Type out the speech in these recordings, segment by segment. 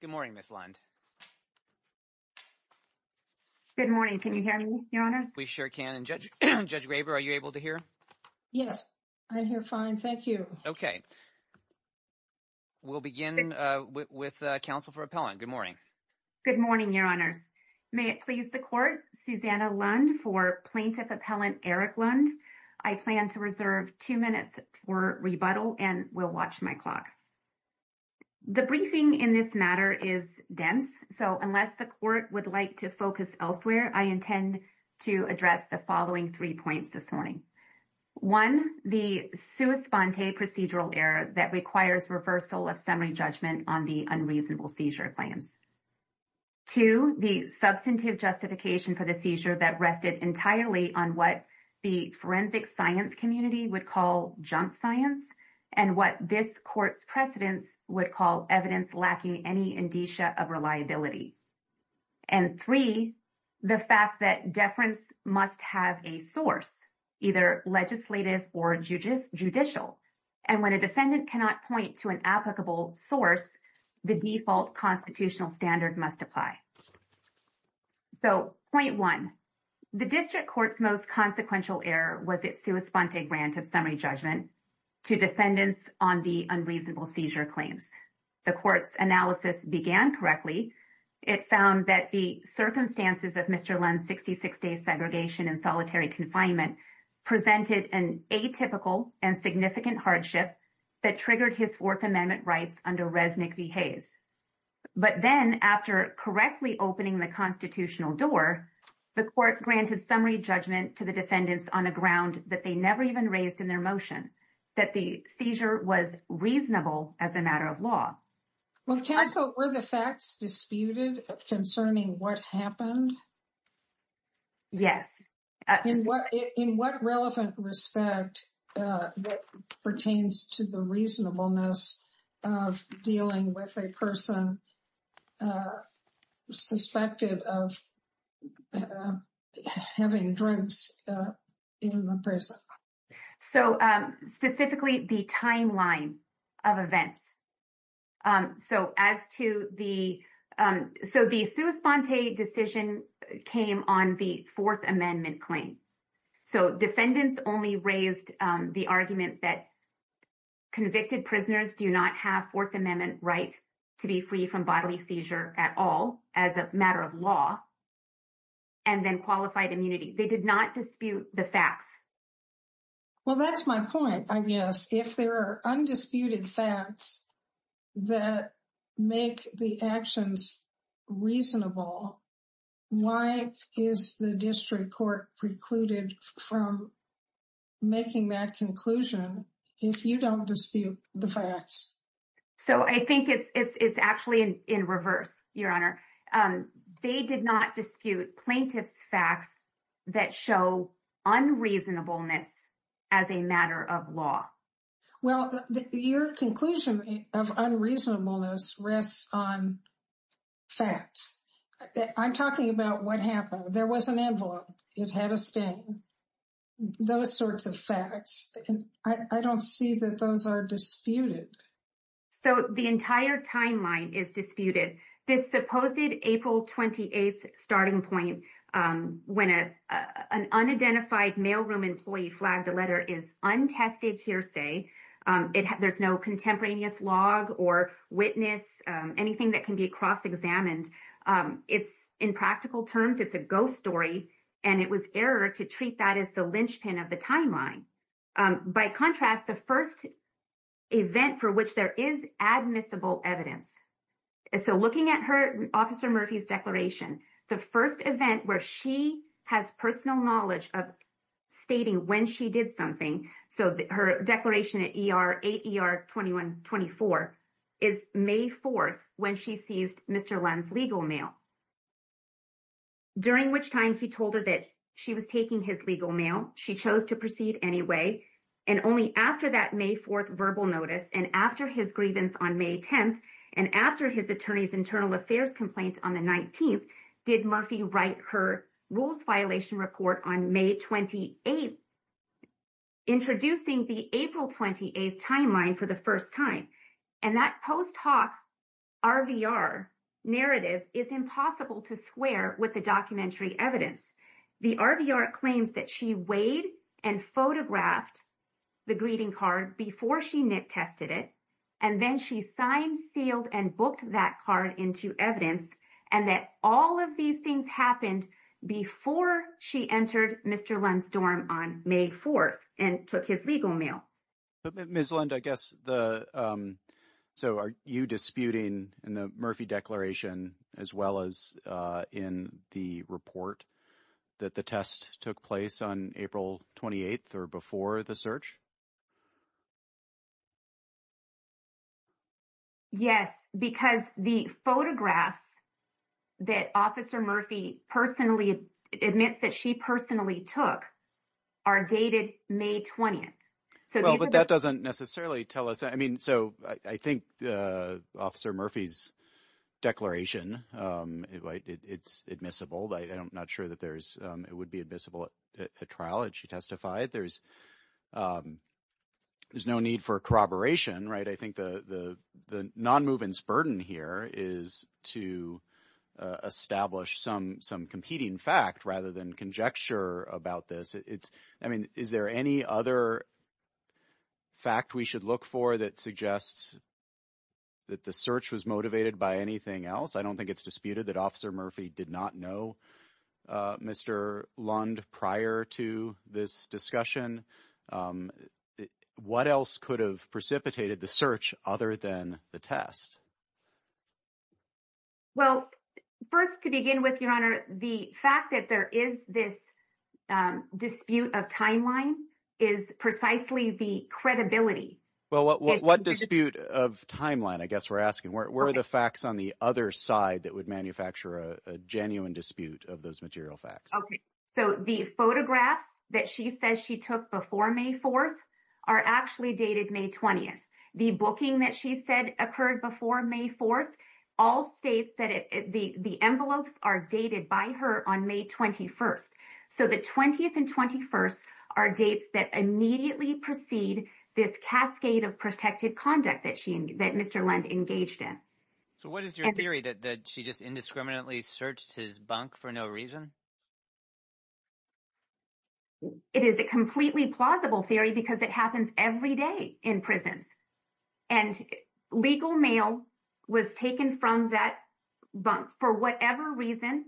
Good morning, Ms. Lund. Good morning. Can you hear me, Your Honors? We sure can. Judge Graber, are you able to hear? Yes, I hear fine. Thank you. Okay. We'll begin with counsel for appellant. Good morning. Good morning, Your Honors. May it please the Court, Susanna Lund for Plaintiff Appellant Eric Lund. I plan to reserve two minutes for rebuttal and will watch my clock. The briefing in this matter is dense. So unless the Court would like to focus elsewhere, I intend to address the following three points this morning. One, the sua sponte procedural error that requires reversal of summary judgment on the unreasonable seizure claims. Two, the substantive justification for the seizure that rested entirely on what the forensic science community would call junk science and what this Court's precedents would call evidence lacking any indicia of reliability. And three, the fact that deference must have a source, either legislative or judicial. And when a defendant cannot point to an applicable source, the default constitutional standard must apply. So point one, the district court's most consequential error was its sua sponte grant of summary judgment to defendants on the unreasonable seizure claims. The Court's analysis began correctly. It found that the circumstances of Mr. Lund's 66-day segregation and solitary confinement presented an atypical and significant hardship that triggered his Fourth Amendment rights under Resnick v. Hayes. But then, after correctly opening the constitutional door, the Court granted summary judgment to the defendants on a ground that they never even raised in their motion, that the seizure was reasonable as a matter of law. Well, can I — So were the facts disputed concerning what happened? Yes. In what relevant respect pertains to the reasonableness of dealing with a person suspected of having drugs in the prison? So specifically, the timeline of events. So as to the — so the sua sponte decision came on the Fourth Amendment claim. So defendants only raised the argument that convicted prisoners do not have Fourth Amendment right to be free from bodily seizure at all as a matter of law, and then qualified immunity. They did not dispute the facts. Well, that's my point, Agnes. If there are undisputed facts that make the actions reasonable, why is the district court precluded from making that conclusion if you don't dispute the facts? So I think it's actually in reverse, Your Honor. They did not dispute plaintiff's facts that show unreasonableness as a matter of law. Well, your conclusion of unreasonableness rests on facts. I'm talking about what happened. There was an envelope. It had a stain. Those sorts of facts. I don't see that those are disputed. So the entire timeline is disputed. This supposed April 28th starting point when an unidentified mailroom employee flagged a letter is untested hearsay. There's no contemporaneous log or witness, anything that can be cross-examined. It's in practical terms, it's a ghost story, and it was error to treat that as the linchpin of the timeline. By contrast, the first event for which there is admissible evidence. So looking at her, Officer Murphy's declaration, the first event where she has personal knowledge of stating when she did something. So her declaration at 8 ER 2124 is May 4th when she seized Mr. Len's legal mail. During which time she told her that she was taking his legal mail, she chose to proceed anyway, and only after that May 4th verbal notice and after his grievance on May 10th and after his attorney's internal affairs complaint on the 19th did Murphy write her rules violation report on May 28th, introducing the April 28th timeline for the first time. And that post hoc RVR narrative is impossible to square with the documentary evidence. The RVR claims that she weighed and photographed the greeting card before she nit-tested it, and then she signed, sealed, and booked that card into evidence and that all of these things happened before she entered Mr. Len's dorm on May 4th and took his legal mail. But Ms. Lund, I guess the, so are you disputing in the Murphy declaration as well as in the report that the test took place on April 28th or before the search? Yes, because the photographs that Officer Murphy personally admits that she personally took are dated May 20th. Well, but that doesn't necessarily tell us, I mean, so I think Officer Murphy's declaration, it's admissible. I'm not sure that there's, it would be admissible at a trial that she testified. There's no need for corroboration, right? I think the non-movements burden here is to establish some competing fact rather than a conjecture about this. It's, I mean, is there any other fact we should look for that suggests that the search was motivated by anything else? I don't think it's disputed that Officer Murphy did not know Mr. Lund prior to this discussion. What else could have precipitated the search other than the test? Well, first to begin with, Your Honor, the fact that there is this dispute of timeline is precisely the credibility. Well, what dispute of timeline, I guess we're asking, where are the facts on the other side that would manufacture a genuine dispute of those material facts? Okay. So the photographs that she says she took before May 4th are actually dated May 20th. The booking that she said occurred before May 4th, all states that it, the envelopes are dated by her on May 21st. So the 20th and 21st are dates that immediately precede this cascade of protected conduct that she, that Mr. Lund engaged in. So what is your theory that she just indiscriminately searched his bunk for no reason? It is a completely plausible theory because it happens every day in prisons. And legal mail was taken from that bunk for whatever reason.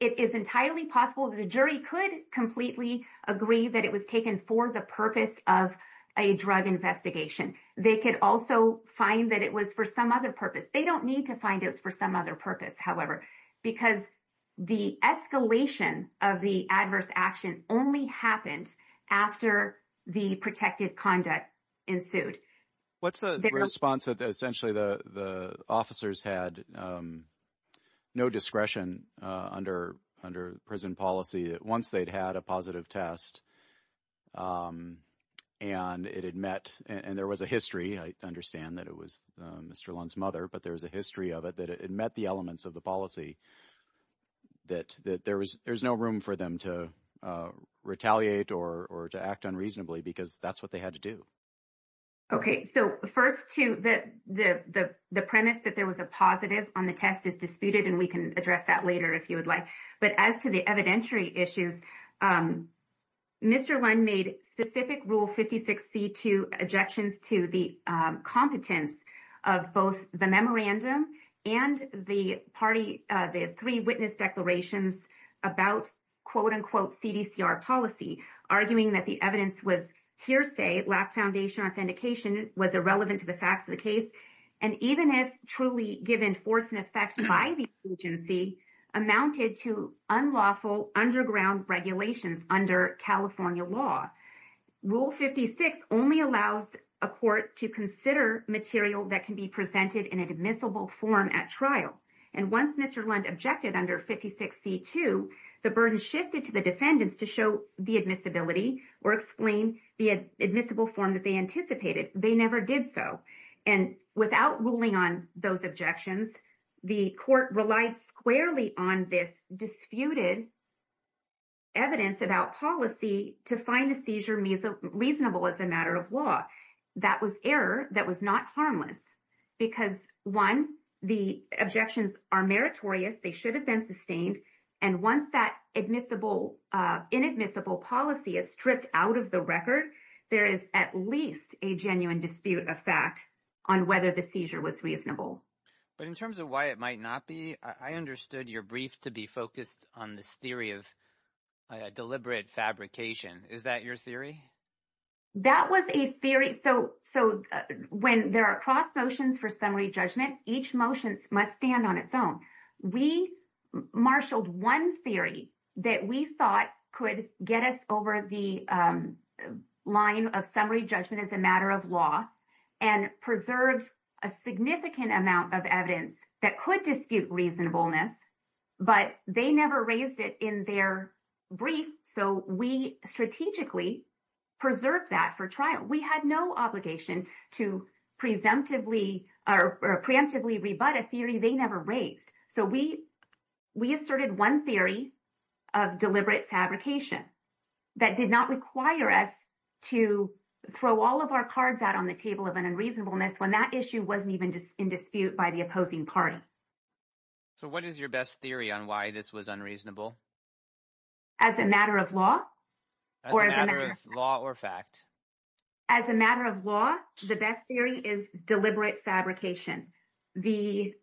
It is entirely possible that the jury could completely agree that it was taken for the purpose of a drug investigation. They could also find that it was for some other purpose. They don't need to find it was for some other purpose, however, because the escalation of the adverse action only happened after the protected conduct ensued. What's the response that essentially the officers had no discretion under prison policy that once they'd had a positive test and it had met and there was a history, I understand that it was Mr. Lund's mother, but there was a history of it that it met the elements of the policy that there was, there's no room for them to retaliate or to act unreasonably because that's what they had to do. Okay. So first to the premise that there was a positive on the test is disputed and we can address that later if you would like. But as to the evidentiary issues, Mr. Lund made specific rule 56C2 objections to the competence of both the memorandum and the party, the three witness declarations about quote, unquote CDCR policy, arguing that the evidence was hearsay, lack foundation authentication was irrelevant to the facts of the case. And even if truly given force and effect by the agency amounted to unlawful underground regulations under California law, rule 56 only allows a court to consider material that can be presented in an admissible form at trial. And once Mr. Lund objected under 56C2, the burden shifted to the defendants to show the admissibility or explain the admissible form that they anticipated. They never did so. And without ruling on those objections, the court relied squarely on this disputed evidence about policy to find the seizure reasonable as a matter of law. That was error that was not harmless because one, the objections are meritorious, they should have been sustained. And once that inadmissible policy is stripped out of the record, there is at least a genuine dispute of fact on whether the seizure was reasonable. But in terms of why it might not be, I understood your brief to be focused on this theory of deliberate fabrication. Is that your theory? That was a theory. So when there are cross motions for summary judgment, each motion must stand on its own. We marshaled one theory that we thought could get us over the line of summary judgment as a matter of law and preserved a significant amount of evidence that could dispute reasonableness, but they never raised it in their brief. So we strategically preserved that for trial. We had no obligation to preemptively rebut a theory they never raised. So we asserted one theory of deliberate fabrication that did not require us to throw all of our cards out on the table of an unreasonableness when that issue wasn't even in dispute by the opposing party. So what is your best theory on why this was unreasonable? As a matter of law? As a matter of law or fact? As a matter of law, the best theory is deliberate fabrication. The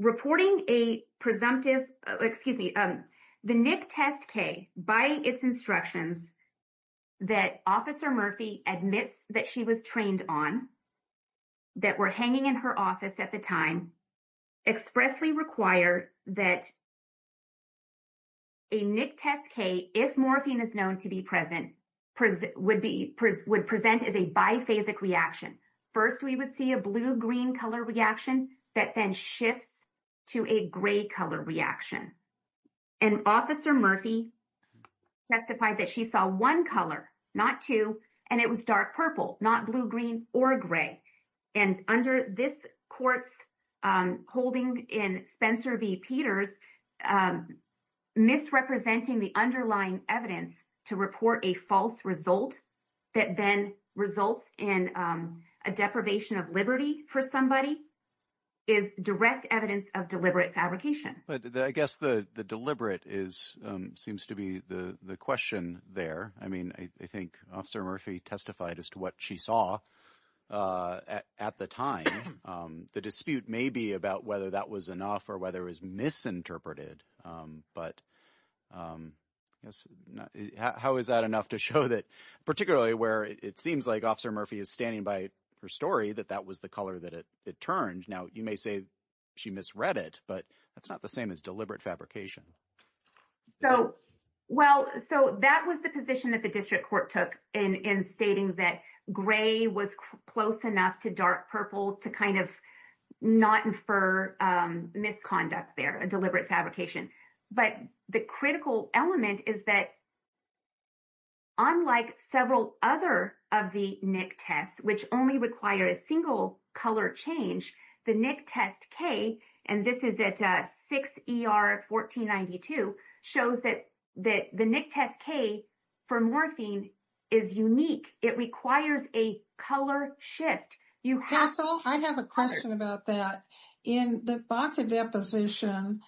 reporting a presumptive, excuse me, the NIC test K by its instructions that Officer Murphy admits that she was trained on, that were hanging in her office at the time, expressly require that a NIC test K, if morphine is known to be present, would present as a biphasic reaction. First we would see a blue-green color reaction that then shifts to a gray color reaction. And Officer Murphy testified that she saw one color, not two, and it was dark purple, not blue-green or gray. And under this court's holding in Spencer v. Peters, misrepresenting the underlying evidence to report a false result that then results in a deprivation of liberty for somebody is direct evidence of deliberate fabrication. But I guess the deliberate seems to be the question there. I mean, I think Officer Murphy testified as to what she saw at the time. The dispute may be about whether that was enough or whether it was misinterpreted. But how is that enough to show that particularly where it seems like Officer Murphy is standing by her story, that that was the color that it turned. Now, you may say she misread it, but that's not the same as deliberate fabrication. So, well, so that was the position that the district court took in stating that gray was close enough to dark purple to kind of not infer misconduct there, a deliberate fabrication. But the critical element is that unlike several other of the NIC tests, which only require a single color change, the NIC test K, and this is at 6 ER 1492, shows that the NIC test K for morphine is unique. It requires a color shift. You have- I have a question about that. In the BACA deposition,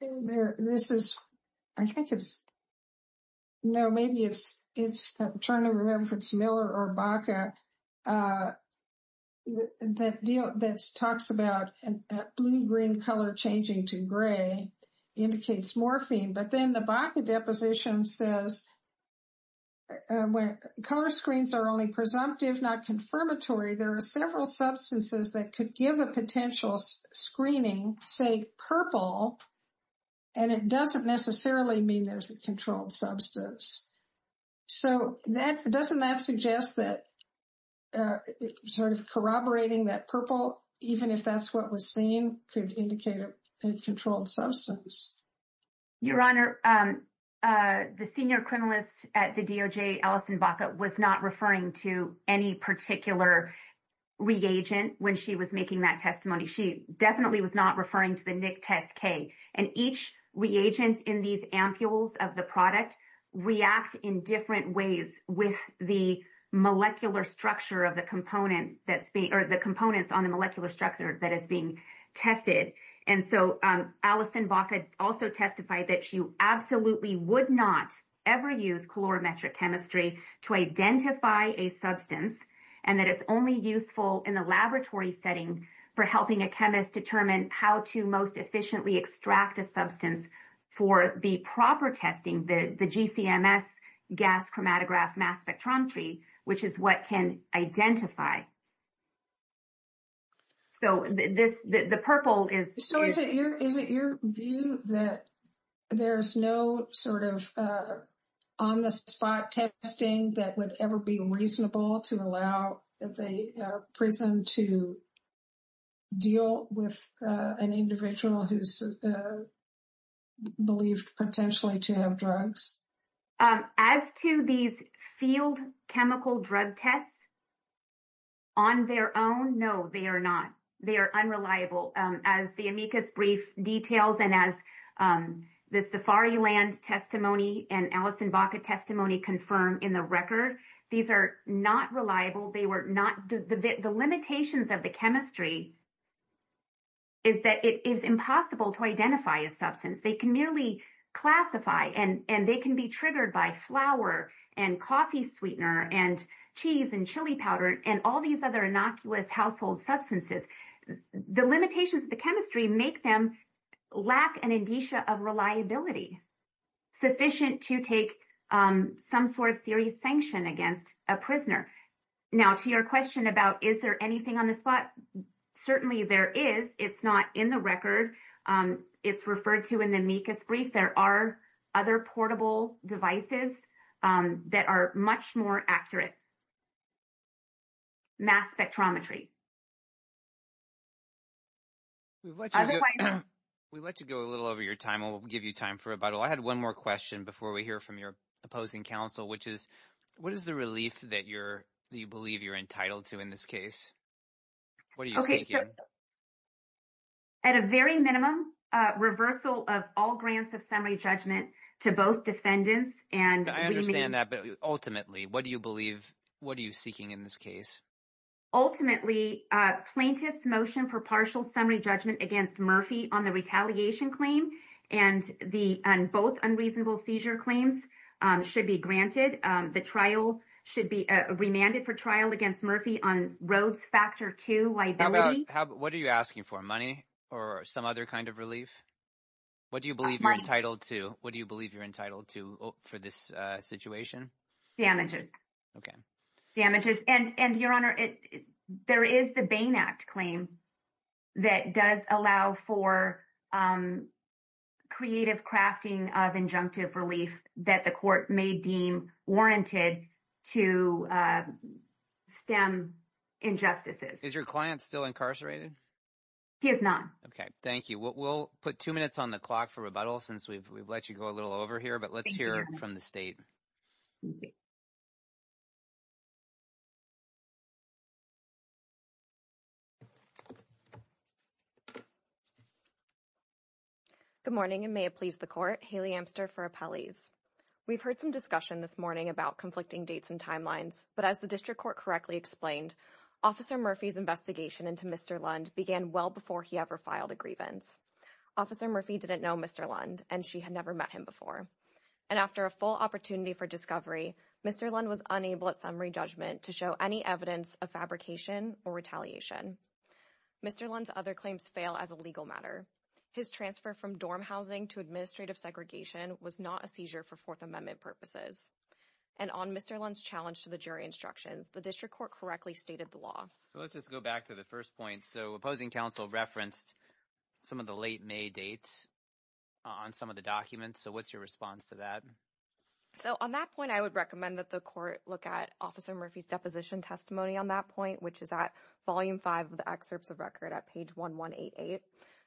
this is, I think it's, no, maybe it's trying to remember if it's Miller or BACA, that deal that talks about a blue-green color changing to gray indicates morphine. But then the BACA deposition says, when color screens are only presumptive, not confirmatory, there are several substances that could give a potential screening, say, purple, and it doesn't necessarily mean there's a controlled substance. So that- doesn't that suggest that sort of corroborating that purple, even if that's what was seen, could indicate a controlled substance? Your Honor, the senior criminalist at the DOJ, Alison BACA, was not referring to any particular reagent when she was making that testimony. She definitely was not referring to the NIC test K. And each reagent in these ampules of the product react in different ways with the molecular structure of the component that's being- or the components on the molecular structure that is being tested. And so, Alison BACA also testified that she absolutely would not ever use calorimetric chemistry to identify a substance, and that it's only useful in a laboratory setting for helping a chemist determine how to most efficiently extract a substance for the proper testing, the GC-MS gas chromatograph mass spectrometry, which is what can identify. So, this- the purple is- So, is it your- is it your view that there's no sort of on-the-spot testing that would ever be reasonable to allow the prison to deal with an individual who's believed potentially to have drugs? As to these field chemical drug tests, on their own, no, they are not. They are unreliable. As the amicus brief details and as the Safari Land testimony and Alison BACA testimony confirm in the record, these are not reliable. They were not- the limitations of the chemistry is that it is impossible to identify a substance. They can merely classify, and they can be triggered by flour and coffee sweetener and cheese and chili powder and all these other innocuous household substances. The limitations of the chemistry make them lack an indicia of reliability sufficient to take some sort of serious sanction against a prisoner. Now, to your question about is there anything on the spot, certainly there is. It's not in the record. It's referred to in the amicus brief. There are other portable devices that are much more accurate. Mass spectrometry. We've let you go a little over your time. I'll give you time for rebuttal. I had one more question before we hear from your opposing counsel, which is, what is the relief that you're- that you believe you're entitled to in this case? What are you thinking? At a very minimum, reversal of all grants of summary judgment to both defendants and- I understand that, but ultimately, what do you believe- what are you seeking in this case? Ultimately, plaintiff's motion for partial summary judgment against Murphy on the retaliation claim and both unreasonable seizure claims should be granted. The trial should be remanded for trial against Murphy on Rhodes Factor II liability. What are you asking for? Money or some other kind of relief? What do you believe you're entitled to? What do you believe you're entitled to for this situation? Okay. Damages. And your honor, there is the Bain Act claim that does allow for creative crafting of injunctive relief that the court may deem warranted to stem injustices. Is your client still incarcerated? He is not. Okay. Thank you. We'll put two minutes on the clock for rebuttal since we've let you go a little over here, but let's hear from the state. Good morning and may it please the court. Haley Amster for Appellees. We've heard some discussion this morning about conflicting dates and timelines, but as the district court correctly explained, Officer Murphy's investigation into Mr. Lund began well before he ever filed a grievance. Officer Murphy didn't know Mr. Lund and she had never met him before. And after a full opportunity for discovery, Mr. Lund was unable at summary judgment to show any evidence of fabrication or retaliation. Mr. Lund's other claims fail as a legal matter. His transfer from dorm housing to administrative segregation was not a seizure for Fourth Amendment purposes. And on Mr. Lund's challenge to the jury instructions, the district court correctly stated the law. So let's just go back to the first point. So opposing counsel referenced some of the late May dates on some of the documents. So what's your response to that? So on that point, I would recommend that the court look at Officer Murphy's deposition testimony on that point, which is at volume five of the excerpts of record at page 1188.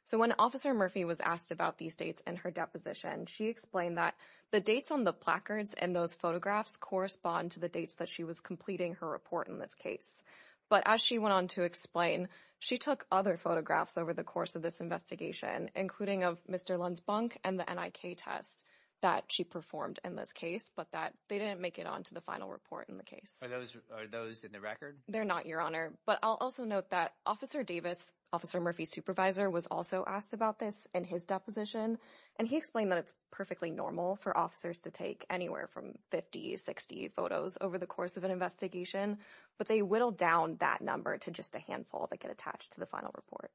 So when Officer Murphy was asked about these states and her deposition, she explained that the dates on the placards and those photographs correspond to the dates that she was completing her report in this case. But as she went on to explain, she took other photographs over the course of this investigation, including of Mr. Lund's bunk and the NIK test that she performed in this case, but that they didn't make it onto the final report in the case. Are those in the record? They're not, Your Honor. But I'll also note that Officer Davis, Officer Murphy's supervisor was also asked about this in his deposition. And he explained that it's perfectly normal for officers to take anywhere from 50, 60 photos over the course of an investigation. But they whittled down that number to just a handful that get attached to the final report.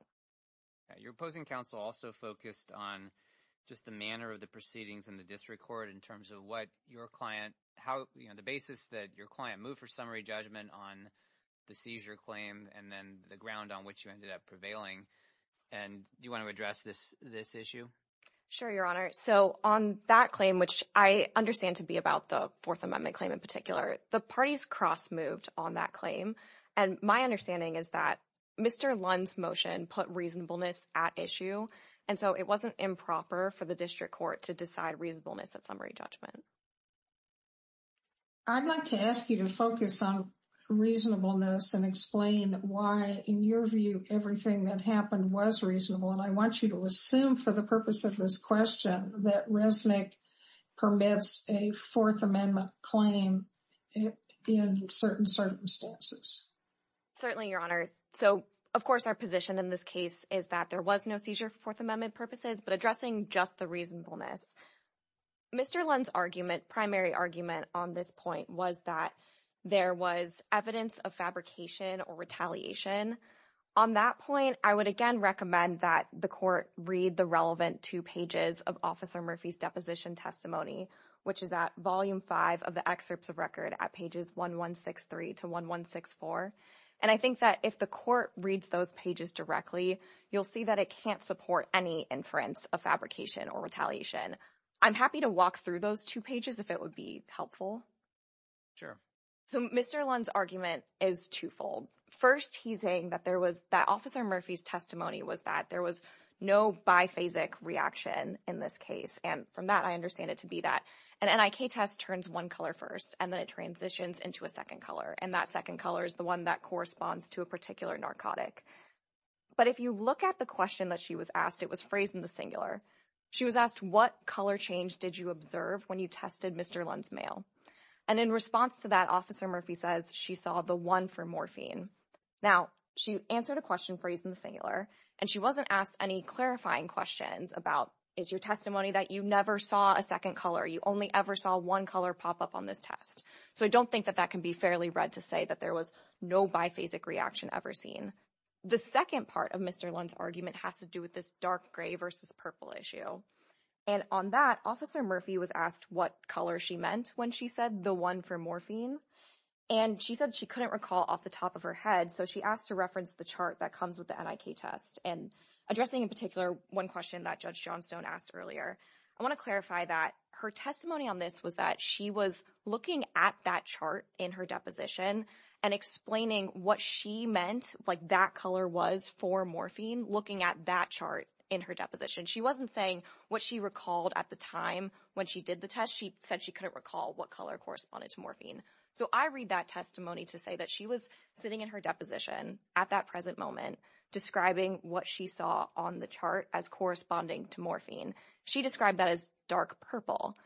Your opposing counsel also focused on just the manner of the proceedings in the district court in terms of what your client, the basis that your client moved for summary judgment on the seizure claim and then the ground on which you ended up prevailing. And do you want to address this issue? Sure, Your Honor. So on that claim, which I understand to be about the Fourth Amendment claim in particular, the parties cross moved on that claim. And my understanding is that Mr. Lund's motion put reasonableness at issue. And so it wasn't improper for the district court to decide reasonableness at summary judgment. I'd like to ask you to focus on reasonableness and explain why, in your view, everything that happened was reasonable. And I want you to assume, for the purpose of this question, that Resnick permits a Fourth Amendment claim in certain circumstances. Certainly, Your Honor. So, of course, our position in this case is that there was no seizure for Fourth Amendment purposes, but addressing just the reasonableness. Mr. Lund's argument, primary argument on this point was that there was evidence of fabrication or retaliation. On that point, I would, again, recommend that the court read the relevant two pages of Officer Murphy's deposition testimony, which is at volume five of the excerpts of record at pages 1163 to 1164. And I think that if the court reads those pages directly, you'll see that it can't support any inference of fabrication or retaliation. I'm happy to walk through those two pages if it would be helpful. Sure. So Mr. Lund's argument is twofold. First, he's saying that Officer Murphy's testimony was that there was no biphasic reaction in this case. And from that, I understand it to be that an NIK test turns one color first, and then it transitions into a second color. And that second color is the one that corresponds to a particular narcotic. But if you look at the question that she was asked, it was phrased in the singular. She was asked, what color change did you observe when you tested Mr. Lund's mail? And in response to that, Officer Murphy says she saw the one for morphine. Now, she answered a question phrased in the singular, and she wasn't asked any clarifying questions about, is your testimony that you never saw a second color? You only ever saw one color pop up on this test. So I don't think that that can be fairly read to say that there was no biphasic reaction ever seen. The second part of Mr. Lund's argument has to do with this dark gray versus purple issue. And on that, Officer Murphy was asked what color she meant when she said the one for morphine. And she said she couldn't recall off the top of her head, so she asked to reference the chart that comes with the NIK test. And addressing in particular one question that Judge Johnstone asked earlier, I want to clarify that her testimony on this was that she was looking at that chart in her deposition and explaining what she meant, like that color was for morphine, looking at that chart in her deposition. She wasn't saying what she recalled at the time when she did the test. She said she couldn't recall what color corresponded to morphine. So I read that testimony to say that she was sitting in her deposition at that present moment, describing what she saw on the chart as corresponding to morphine. She described that as dark purple.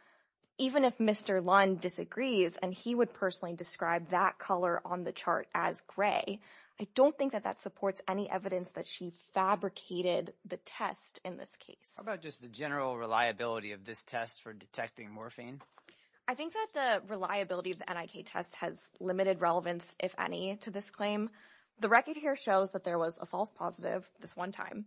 Even if Mr. Lund disagrees, and he would personally describe that color on the chart as gray, I don't think that that supports any evidence that she fabricated the test in this case. How about just the general reliability of this test for detecting morphine? I think that the reliability of the NIK test has limited relevance, if any, to this claim. The record here shows that there was a false positive this one time.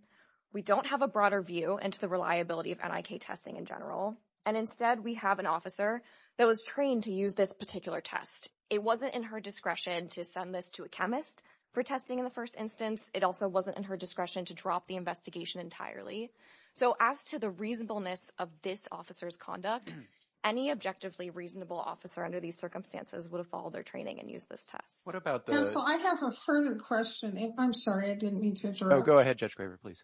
We don't have a broader view into the reliability of NIK testing in general. And instead, we have an officer that was trained to use this particular test. It wasn't in her discretion to send this to a chemist for testing in the first instance. It also wasn't in her discretion to drop the investigation entirely. So as to the reasonableness of this officer's conduct, any objectively reasonable officer under these circumstances would have followed their training and used this test. What about the... Counsel, I have a further question. I'm sorry, I didn't mean to interrupt. Go ahead, Judge Graver, please.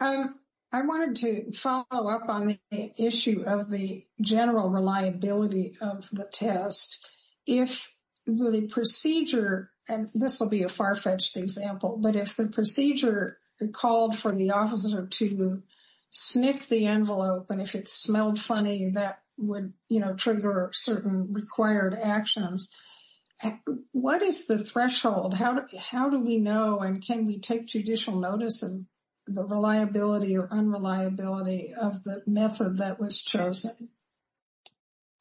I wanted to follow up on the issue of the general reliability of the test. If the procedure, and this will be a far-fetched example, but if the procedure called for the officer to sniff the envelope, and if it smelled funny, that would, you know, trigger certain required actions. What is the threshold? How do we know and can we take judicial notice of the reliability or unreliability of the method that was chosen?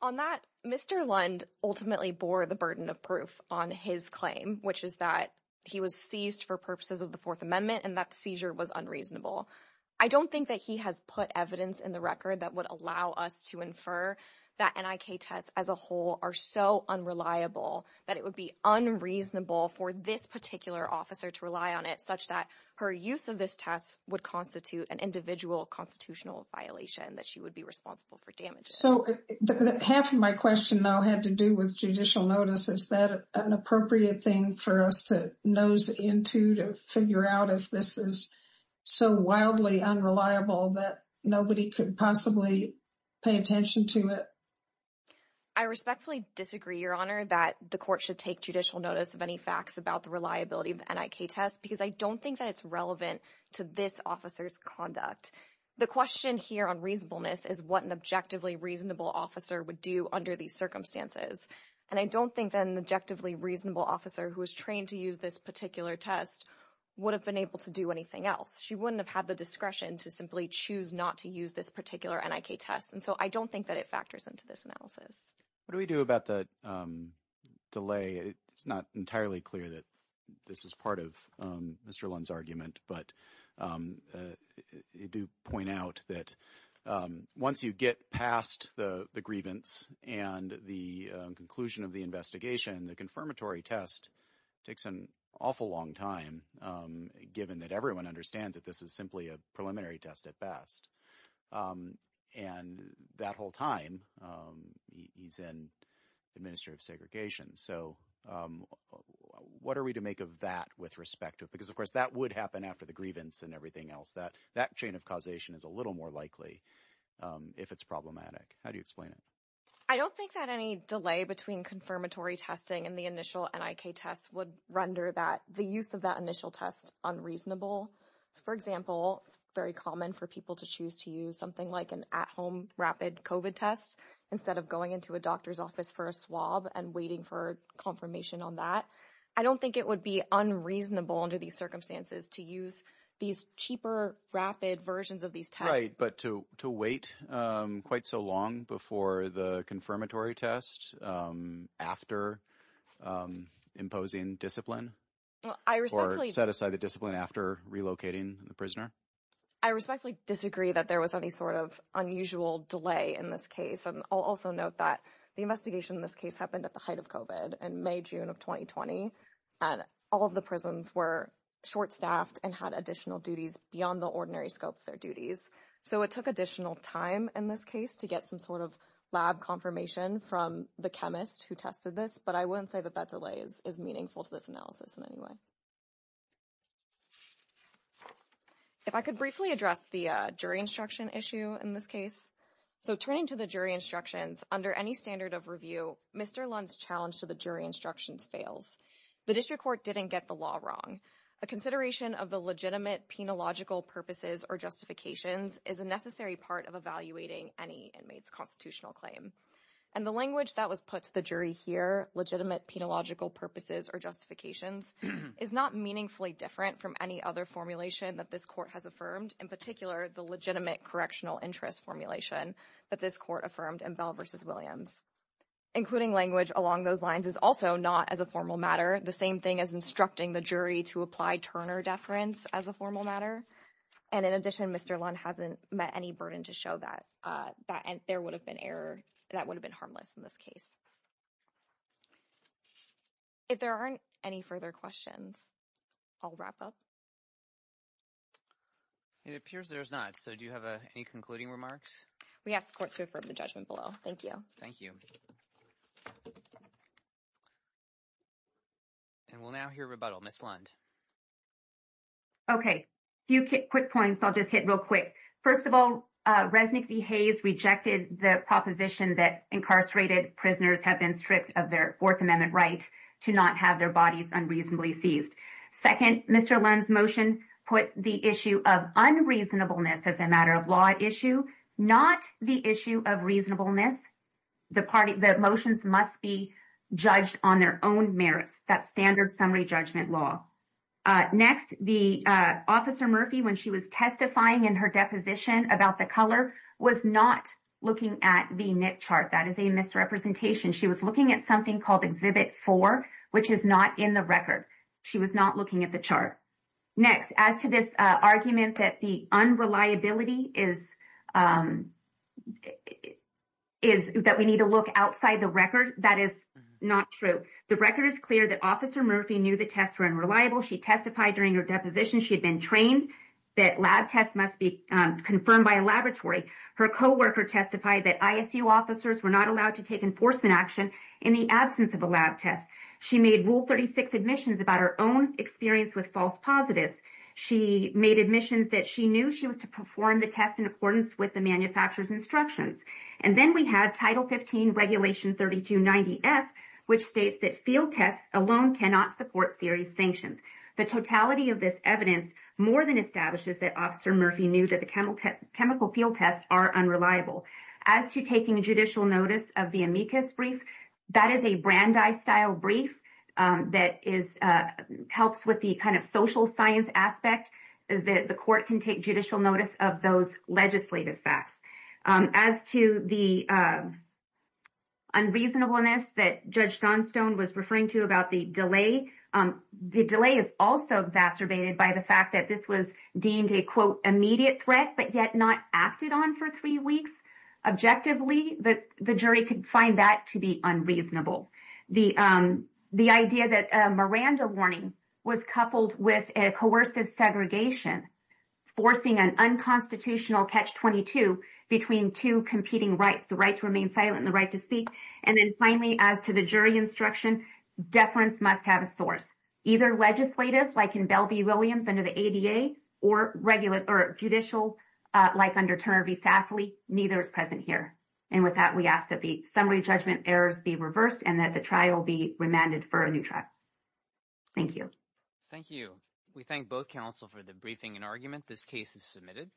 On that, Mr. Lund ultimately bore the burden of proof on his claim, which is that he was seized for purposes of the Fourth Amendment and that the seizure was unreasonable. I don't think that he has put evidence in the record that would allow us to infer that NIK tests as a whole are so unreliable that it would be unreasonable for this particular officer to rely on it such that her use of this test would constitute an individual constitutional violation that she would be responsible for damaging. So half of my question, though, had to do with judicial notice. Is that an appropriate thing for us to nose into to figure out if this is so wildly unreliable that nobody could possibly pay attention to it? I respectfully disagree, Your Honor, that the court should take judicial notice of any facts about the reliability of the NIK test because I don't think that it's relevant to this officer's conduct. The question here on reasonableness is what an objectively reasonable officer would do under these circumstances. And I don't think that an objectively reasonable officer who was trained to use this particular test would have been able to do anything else. She wouldn't have had the discretion to simply choose not to use this particular NIK test. And so I don't think that it factors into this analysis. What do we do about the delay? It's not entirely clear that this is part of Mr. Lund's argument, but you do point out that once you get past the grievance and the conclusion of the investigation, the confirmatory test takes an awful long time, given that everyone understands that this is simply a preliminary test at best. And that whole time he's in administrative segregation. So what are we to make of that with respect to it? That would happen after the grievance and everything else. That chain of causation is a little more likely if it's problematic. How do you explain it? I don't think that any delay between confirmatory testing and the initial NIK test would render the use of that initial test unreasonable. For example, it's very common for people to choose to use something like an at-home rapid COVID test instead of going into a doctor's office for a swab and waiting for confirmation on that. I don't think it would be unreasonable under these circumstances to use these cheaper, rapid versions of these tests. Right, but to wait quite so long before the confirmatory test, after imposing discipline, or set aside the discipline after relocating the prisoner? I respectfully disagree that there was any sort of unusual delay in this case. And I'll also note that the investigation in this case happened at the height of COVID in May, June of 2020. And all of the prisons were short-staffed and had additional duties beyond the ordinary scope of their duties. So it took additional time in this case to get some sort of lab confirmation from the chemist who tested this. But I wouldn't say that that delay is meaningful to this analysis in any way. If I could briefly address the jury instruction issue in this case. So turning to the jury instructions, under any standard of review, Mr. Lund's challenge to the jury instructions fails. The district court didn't get the law wrong. A consideration of the legitimate, penological purposes or justifications is a necessary part of evaluating any inmate's constitutional claim. And the language that was put to the jury here, legitimate, penological purposes or justifications, is not meaningfully different from any other formulation that this court has affirmed. In particular, the legitimate correctional interest formulation that this court affirmed in Bell v. Williams. Including language along those lines is also not as a formal matter, the same thing as instructing the jury to apply Turner deference as a formal matter. And in addition, Mr. Lund hasn't met any burden to show that there would have been harmless in this case. If there aren't any further questions, I'll wrap up. It appears there's not. So do you have any concluding remarks? We ask the court to affirm the judgment below. Thank you. Thank you. And we'll now hear rebuttal. Okay, a few quick points I'll just hit real quick. First of all, Resnick v. Hayes rejected the proposition that incarcerated prisoners have been stripped of their Fourth Amendment right to not have their bodies unreasonably seized. Second, Mr. Lund's motion put the issue of unreasonableness as a matter of law at issue, not the issue of reasonableness. The motions must be judged on their own merits. That's standard summary judgment law. Next, Officer Murphy, when she was testifying in her deposition about the color, was not looking at the NIC chart. That is a misrepresentation. She was looking at something called Exhibit 4, which is not in the record. She was not looking at the chart. Next, as to this argument that the unreliability is that we need to look outside the record, that is not true. The record is clear that Officer Murphy knew the tests were unreliable. She testified during her deposition she had been trained that lab tests must be confirmed by a laboratory. Her coworker testified that ISU officers were not allowed to take enforcement action in the absence of a lab test. She made Rule 36 admissions about her own experience with false positives. She made admissions that she knew she was to perform the tests in accordance with the manufacturer's instructions. And then we had Title 15, Regulation 3290F, which states that field tests alone cannot support serious sanctions. The totality of this evidence more than establishes that Officer Murphy knew that the chemical field tests are unreliable. As to taking judicial notice of the amicus brief, that is a Brandeis-style brief that helps with the kind of social science aspect that the court can take judicial notice of those legislative facts. As to the unreasonableness that Judge Johnstone was referring to about the delay, the delay is also exacerbated by the fact that this was deemed a, quote, immediate threat, but yet not acted on for three weeks. Objectively, the jury could find that to be unreasonable. The idea that a Miranda warning was coupled with a coercive segregation, forcing an unconstitutional catch-22 between two competing rights, the right to remain silent and the right to speak. And then finally, as to the jury instruction, deference must have a source, either legislative, like in Bell v. Williams under the ADA, or judicial, like under Turner v. Safley. Neither is present here. And with that, we ask that the summary judgment errors be reversed and that the trial be remanded for a new trial. Thank you. Thank you. We thank both counsel for the briefing and argument. This case is submitted.